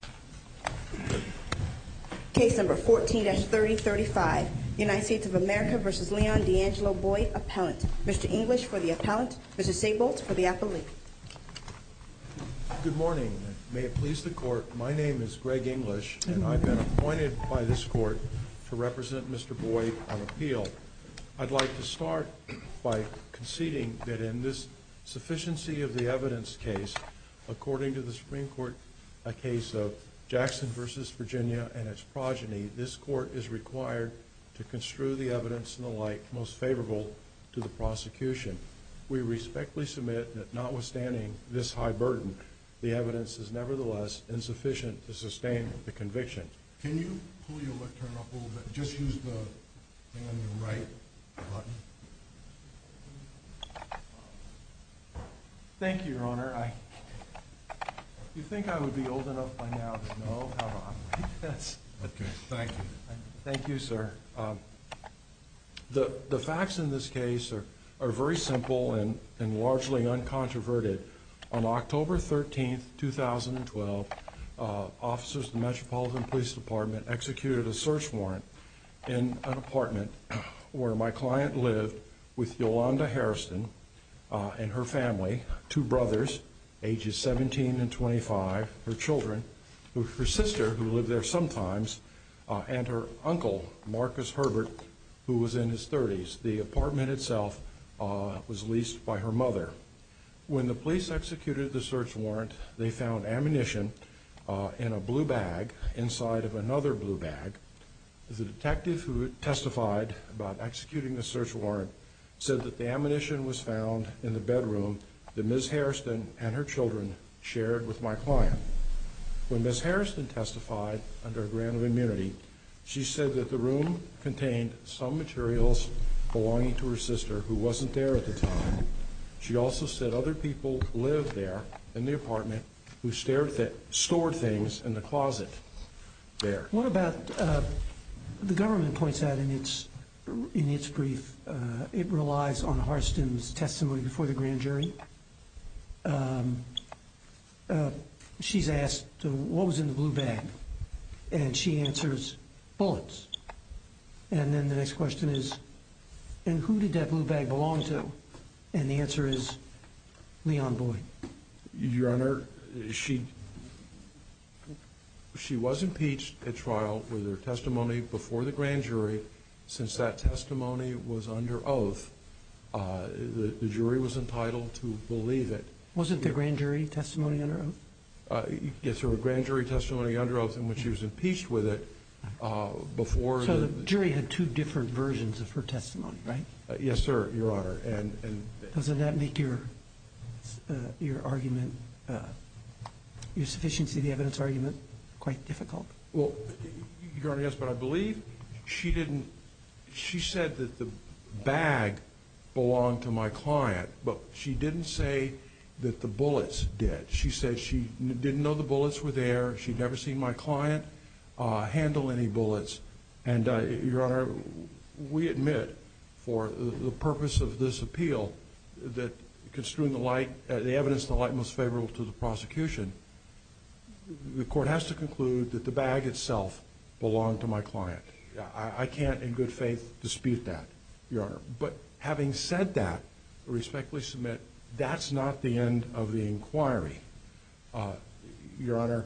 Appellant. Mr. English for the Appellant. Mr. Sabolt for the Appellant. Good morning. May it please the Court, my name is Greg English and I've been appointed by this Court to represent Mr. Boyd on appeal. I'd like to start by conceding that in this case of Jackson v. Virginia and its progeny, this Court is required to construe the evidence and the like most favorable to the prosecution. We respectfully submit that notwithstanding this high burden, the evidence is nevertheless insufficient to sustain the conviction. Can you pull your lectern up a little bit? Just use the thing on your right button. Thank you, Your Honor. Do you think I would be old enough by now to know how to operate this? Thank you, sir. The facts in this case are very simple and largely uncontroverted. On October 13, 2012, officers of the Metropolitan Police Department executed a search warrant in an apartment where my client lived with Yolanda Harrison and her family, two brothers ages 17 and 25, her children, her sister who lived there sometimes, and her uncle, Marcus Herbert, who was in his 30s. The apartment itself was leased by her mother. When the police executed the search warrant, they found ammunition in a blue bag inside of another blue bag. The detective who testified about executing the search warrant said that the ammunition was found in the bedroom that Ms. Harrison and her children shared with my client. When Ms. Harrison testified under a grant of immunity, she said that the room contained some materials belonging to her sister, who wasn't there at the time. She also said other people lived there in the apartment who stored things in the closet there. What about, the government points out in its brief, it relies on Harston's testimony before the grand jury. She's asked, what was in the blue bag? And she answers, bullets. And then the next question is, and who did that blue bag belong to? And the answer is, Leon Boyd. Your Honor, she was impeached at trial with her testimony before the grand jury. Since that testimony was under oath, the jury was entitled to believe it. Wasn't the grand jury testimony under oath? Yes, sir. The grand jury testimony under oath, and when she was impeached with it, before the... So the jury had two different versions of her testimony, right? Yes, sir, Your Honor. Doesn't that make your argument, your sufficiency of the evidence argument, quite difficult? Well, Your Honor, yes, but I believe she didn't, she said that the bag belonged to my client, but she didn't say that the bullets did. She said she didn't know the bullets were there, she'd never seen my client handle any bullets. And Your Honor, we admit, for the purpose of this appeal, that construing the evidence in the light most favorable to the prosecution, the court has to conclude that the bag itself belonged to my client. I can't in good faith dispute that, Your Honor. But having said that, I respectfully submit, that's not the end of the inquiry, Your Honor.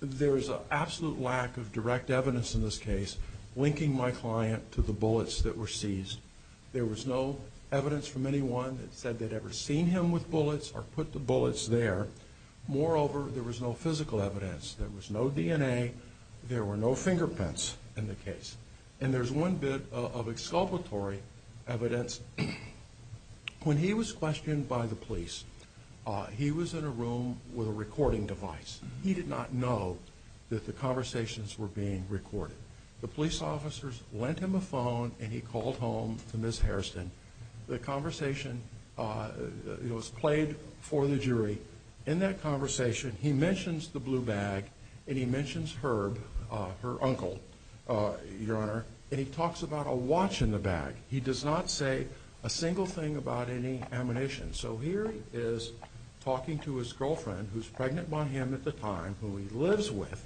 There is an absolute lack of direct evidence in this case linking my client to the bullets that were seized. There was no evidence from anyone that said they'd ever seen him with bullets or put the bullets there. Moreover, there was no physical evidence. There was no DNA, there were no fingerprints in the case. And there's one bit of exculpatory evidence. When he was questioned by the police, he was in a room with a recording device. He did not know that the conversations were being recorded. The police officers lent him a phone and he called home to Ms. Hairston. The conversation was played for the jury. In that conversation, he mentions the blue bag and he mentions Herb, her uncle, Your Honor, and he talks about a watch in the bag. He does not say a single thing about any ammunition. So here he is talking to his girlfriend, who's pregnant by him at the time, who he lives with,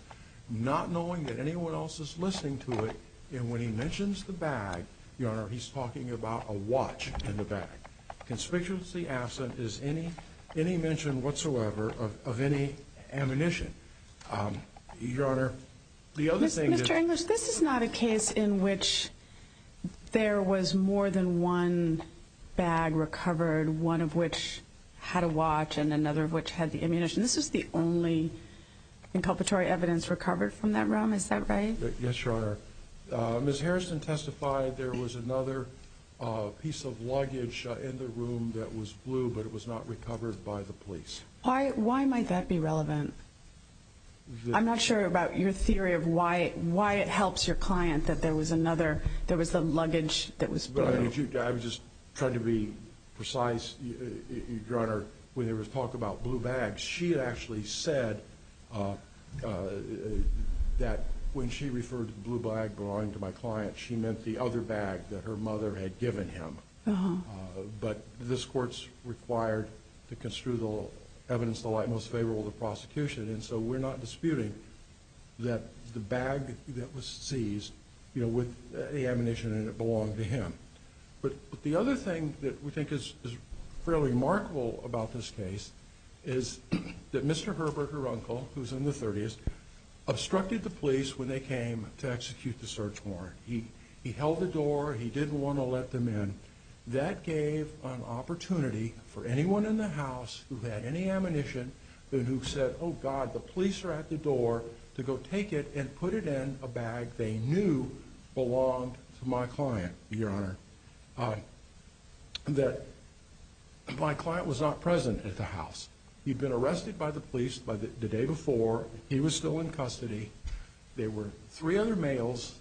not knowing that anyone else is listening to it. And when he mentions the bag, Your Honor, he's talking about a watch in the bag. Conspicuously absent is any mention whatsoever of any ammunition. Your Honor, the other thing is... Mr. English, this is not a case in which there was more than one bag recovered, one of which had a watch and another of which had the ammunition. This was the only inculpatory evidence recovered from that room, is that right? Yes, Your Honor. Ms. Hairston testified there was another piece of luggage in the room that was blue, but it was not recovered by the police. Why might that be relevant? I'm not sure about your theory of why it helps your client that there was the luggage that was blue. I'm just trying to be precise, Your Honor. When he was talking about blue bags, she actually said that when she referred to the blue bag belonging to my client, she meant the other bag that her mother had given him. But this Court's required to construe the evidence to the light most favorable to the prosecution, and so we're not disputing that the bag that was seized, you know, with the ammunition in it belonged to him. But the other thing that we think is fairly remarkable about this case is that Mr. Herberger-Runkle, who's in the 30s, obstructed the police when they came to execute the search warrant. He held the door, he didn't want to let them in. That gave an opportunity for the officer at the door to go take it and put it in a bag they knew belonged to my client, Your Honor. That my client was not present at the house. He'd been arrested by the police by the day before. He was still in custody. There were three other males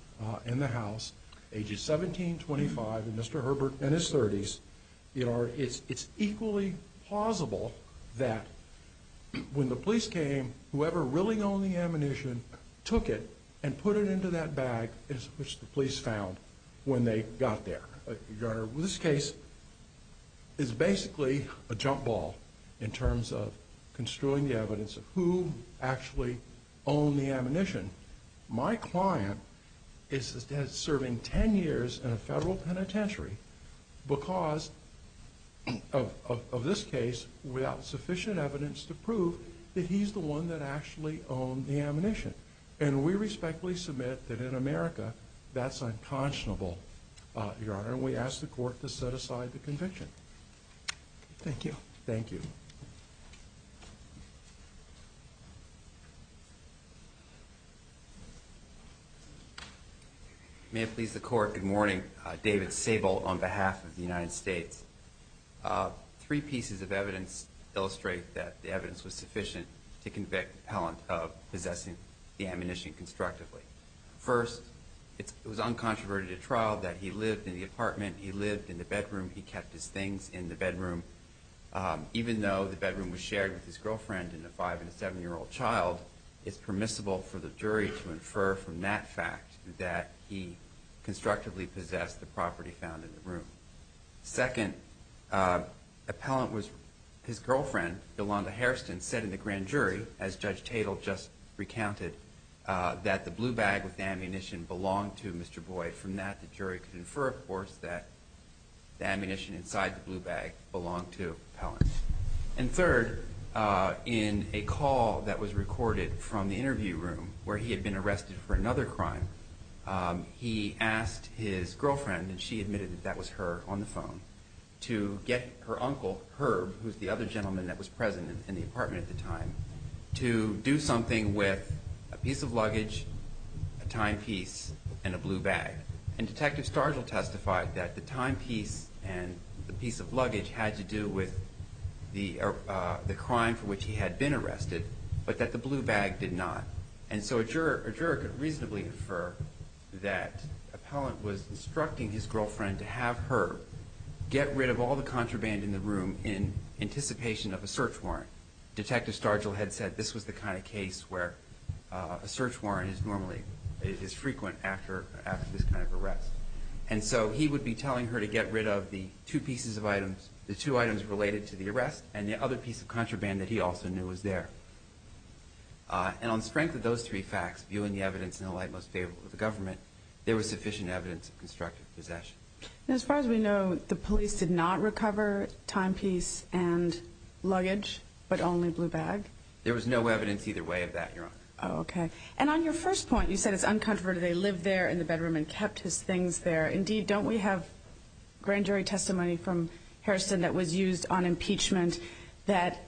in the house, ages 17, 25, Mr. Herberger, and his 30s. It's equally plausible that when the police came, whoever really owned the ammunition took it and put it into that bag, which the police found when they got there. Your Honor, this case is basically a jump ball in terms of construing the evidence of who actually owned the ammunition. My client is serving 10 years in a federal penitentiary because of this case, without sufficient evidence to prove that he's the one that actually owned the ammunition. We respectfully submit that in America, that's unconscionable, Your Honor. We ask the court to set aside the conviction. Thank you. Thank you. May it please the court, good morning. David Sable on behalf of the United States. Three pieces of evidence illustrate that the evidence was sufficient to convict the appellant of possessing the ammunition constructively. First, it was uncontroverted at trial that he lived in the apartment, he lived in the bedroom, he kept his things in the bedroom. Even though the bedroom was shared with his girlfriend and a five and seven year old child, it's permissible for the jury to infer from that fact that he constructively possessed the property found in the room. Second, his girlfriend, Yolanda Hairston, said in the grand jury, as Judge Tatel just recounted, that the blue bag with the ammunition belonged to Mr. Boyd. From that, the jury could infer, of course, that the ammunition inside the blue bag belonged to the appellant. And third, in a call that was recorded from the interview room, where he had been arrested for another crime, he asked his girlfriend, and she admitted that that was her on the phone, to get her uncle, Herb, who's the other gentleman that was present in the apartment at the time, to do something with a piece of luggage, a timepiece, and a blue bag. And Detective Stargill testified that the timepiece and the piece of luggage had to do with the crime for which he had been arrested, but that the blue bag did not. And so a juror could reasonably infer that the appellant was instructing his girlfriend to have Herb get rid of all the contraband in the room in anticipation of a search warrant. Detective Stargill had said this was the kind of case where a search warrant is frequent after this kind of arrest. And so he would be telling her to get rid of the two pieces of items, the two items related to the arrest, and the other piece of contraband that he also knew was there. And on strength of those three facts, viewing the evidence in the light most favorable to the government, there was sufficient evidence of constructive possession. Now, as far as we know, the police did not recover timepiece and luggage, but only blue bag? There was no evidence either way of that, Your Honor. Oh, okay. And on your first point, you said it's uncontroverted, they lived there in the bedroom and kept his things there. Indeed, don't we have grand jury testimony from Harrison that was used on impeachment that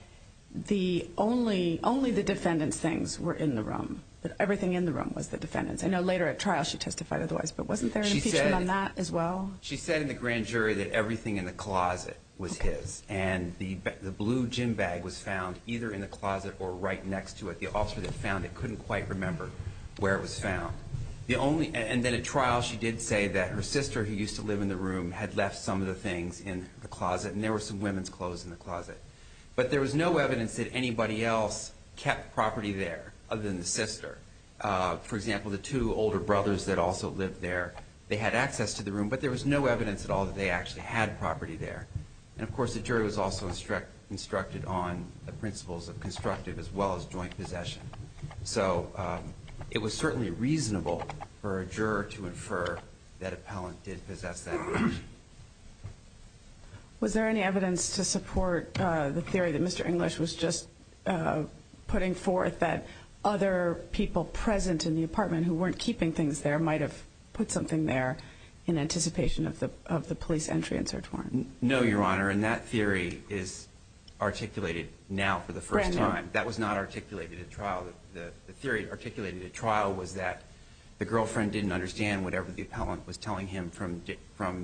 only the defendant's things were in the room, that everything in the room was the defendant's? I know later at trial she testified otherwise, but wasn't there an impeachment on that as well? She said in the grand jury that everything in the closet was his, and the blue gym bag was found either in the closet or right next to it. The officer that found it couldn't quite remember where it was found. And then at trial, she did say that her sister, who was in the closet, and there were some women's clothes in the closet. But there was no evidence that anybody else kept property there other than the sister. For example, the two older brothers that also lived there, they had access to the room, but there was no evidence at all that they actually had property there. And of course, the jury was also instructed on the principles of constructive as well as joint possession. So it was certainly reasonable for a juror to infer that appellant did possess that. Was there any evidence to support the theory that Mr. English was just putting forth that other people present in the apartment who weren't keeping things there might have put something there in anticipation of the police entry and search warrant? No, Your Honor. And that theory is articulated now for the first time. That was not articulated at trial. The theory articulated at trial was that the girlfriend didn't understand whatever the appellant was telling him from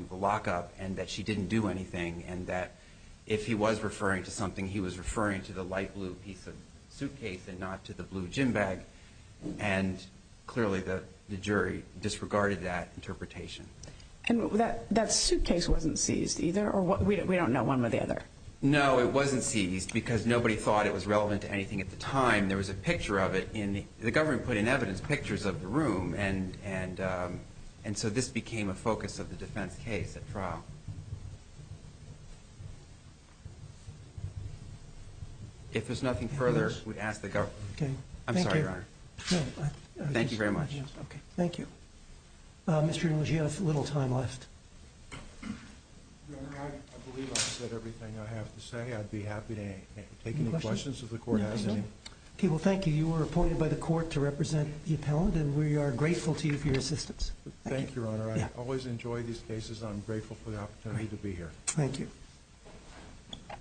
the lockup, and that she didn't do anything, and that if he was referring to something, he was referring to the light blue piece of suitcase and not to the blue gym bag. And clearly, the jury disregarded that interpretation. And that suitcase wasn't seized either? Or we don't know one or the other? No, it wasn't seized because nobody thought it was relevant to anything at the time. There was a picture of it. The government put in evidence pictures of the room, and so this became a focus of the defense case at trial. If there's nothing further, we'd ask the government. I'm sorry, Your Honor. Thank you very much. Thank you. Mr. English, you have little time left. Your Honor, I believe I've said everything I have to say. I'd be happy to take any questions if the Court has any. Okay, well, thank you. You were appointed by the Court to represent the appellant, and we are grateful to you for your assistance. Thank you, Your Honor. I always enjoy these cases, and I'm grateful for the opportunity to be here.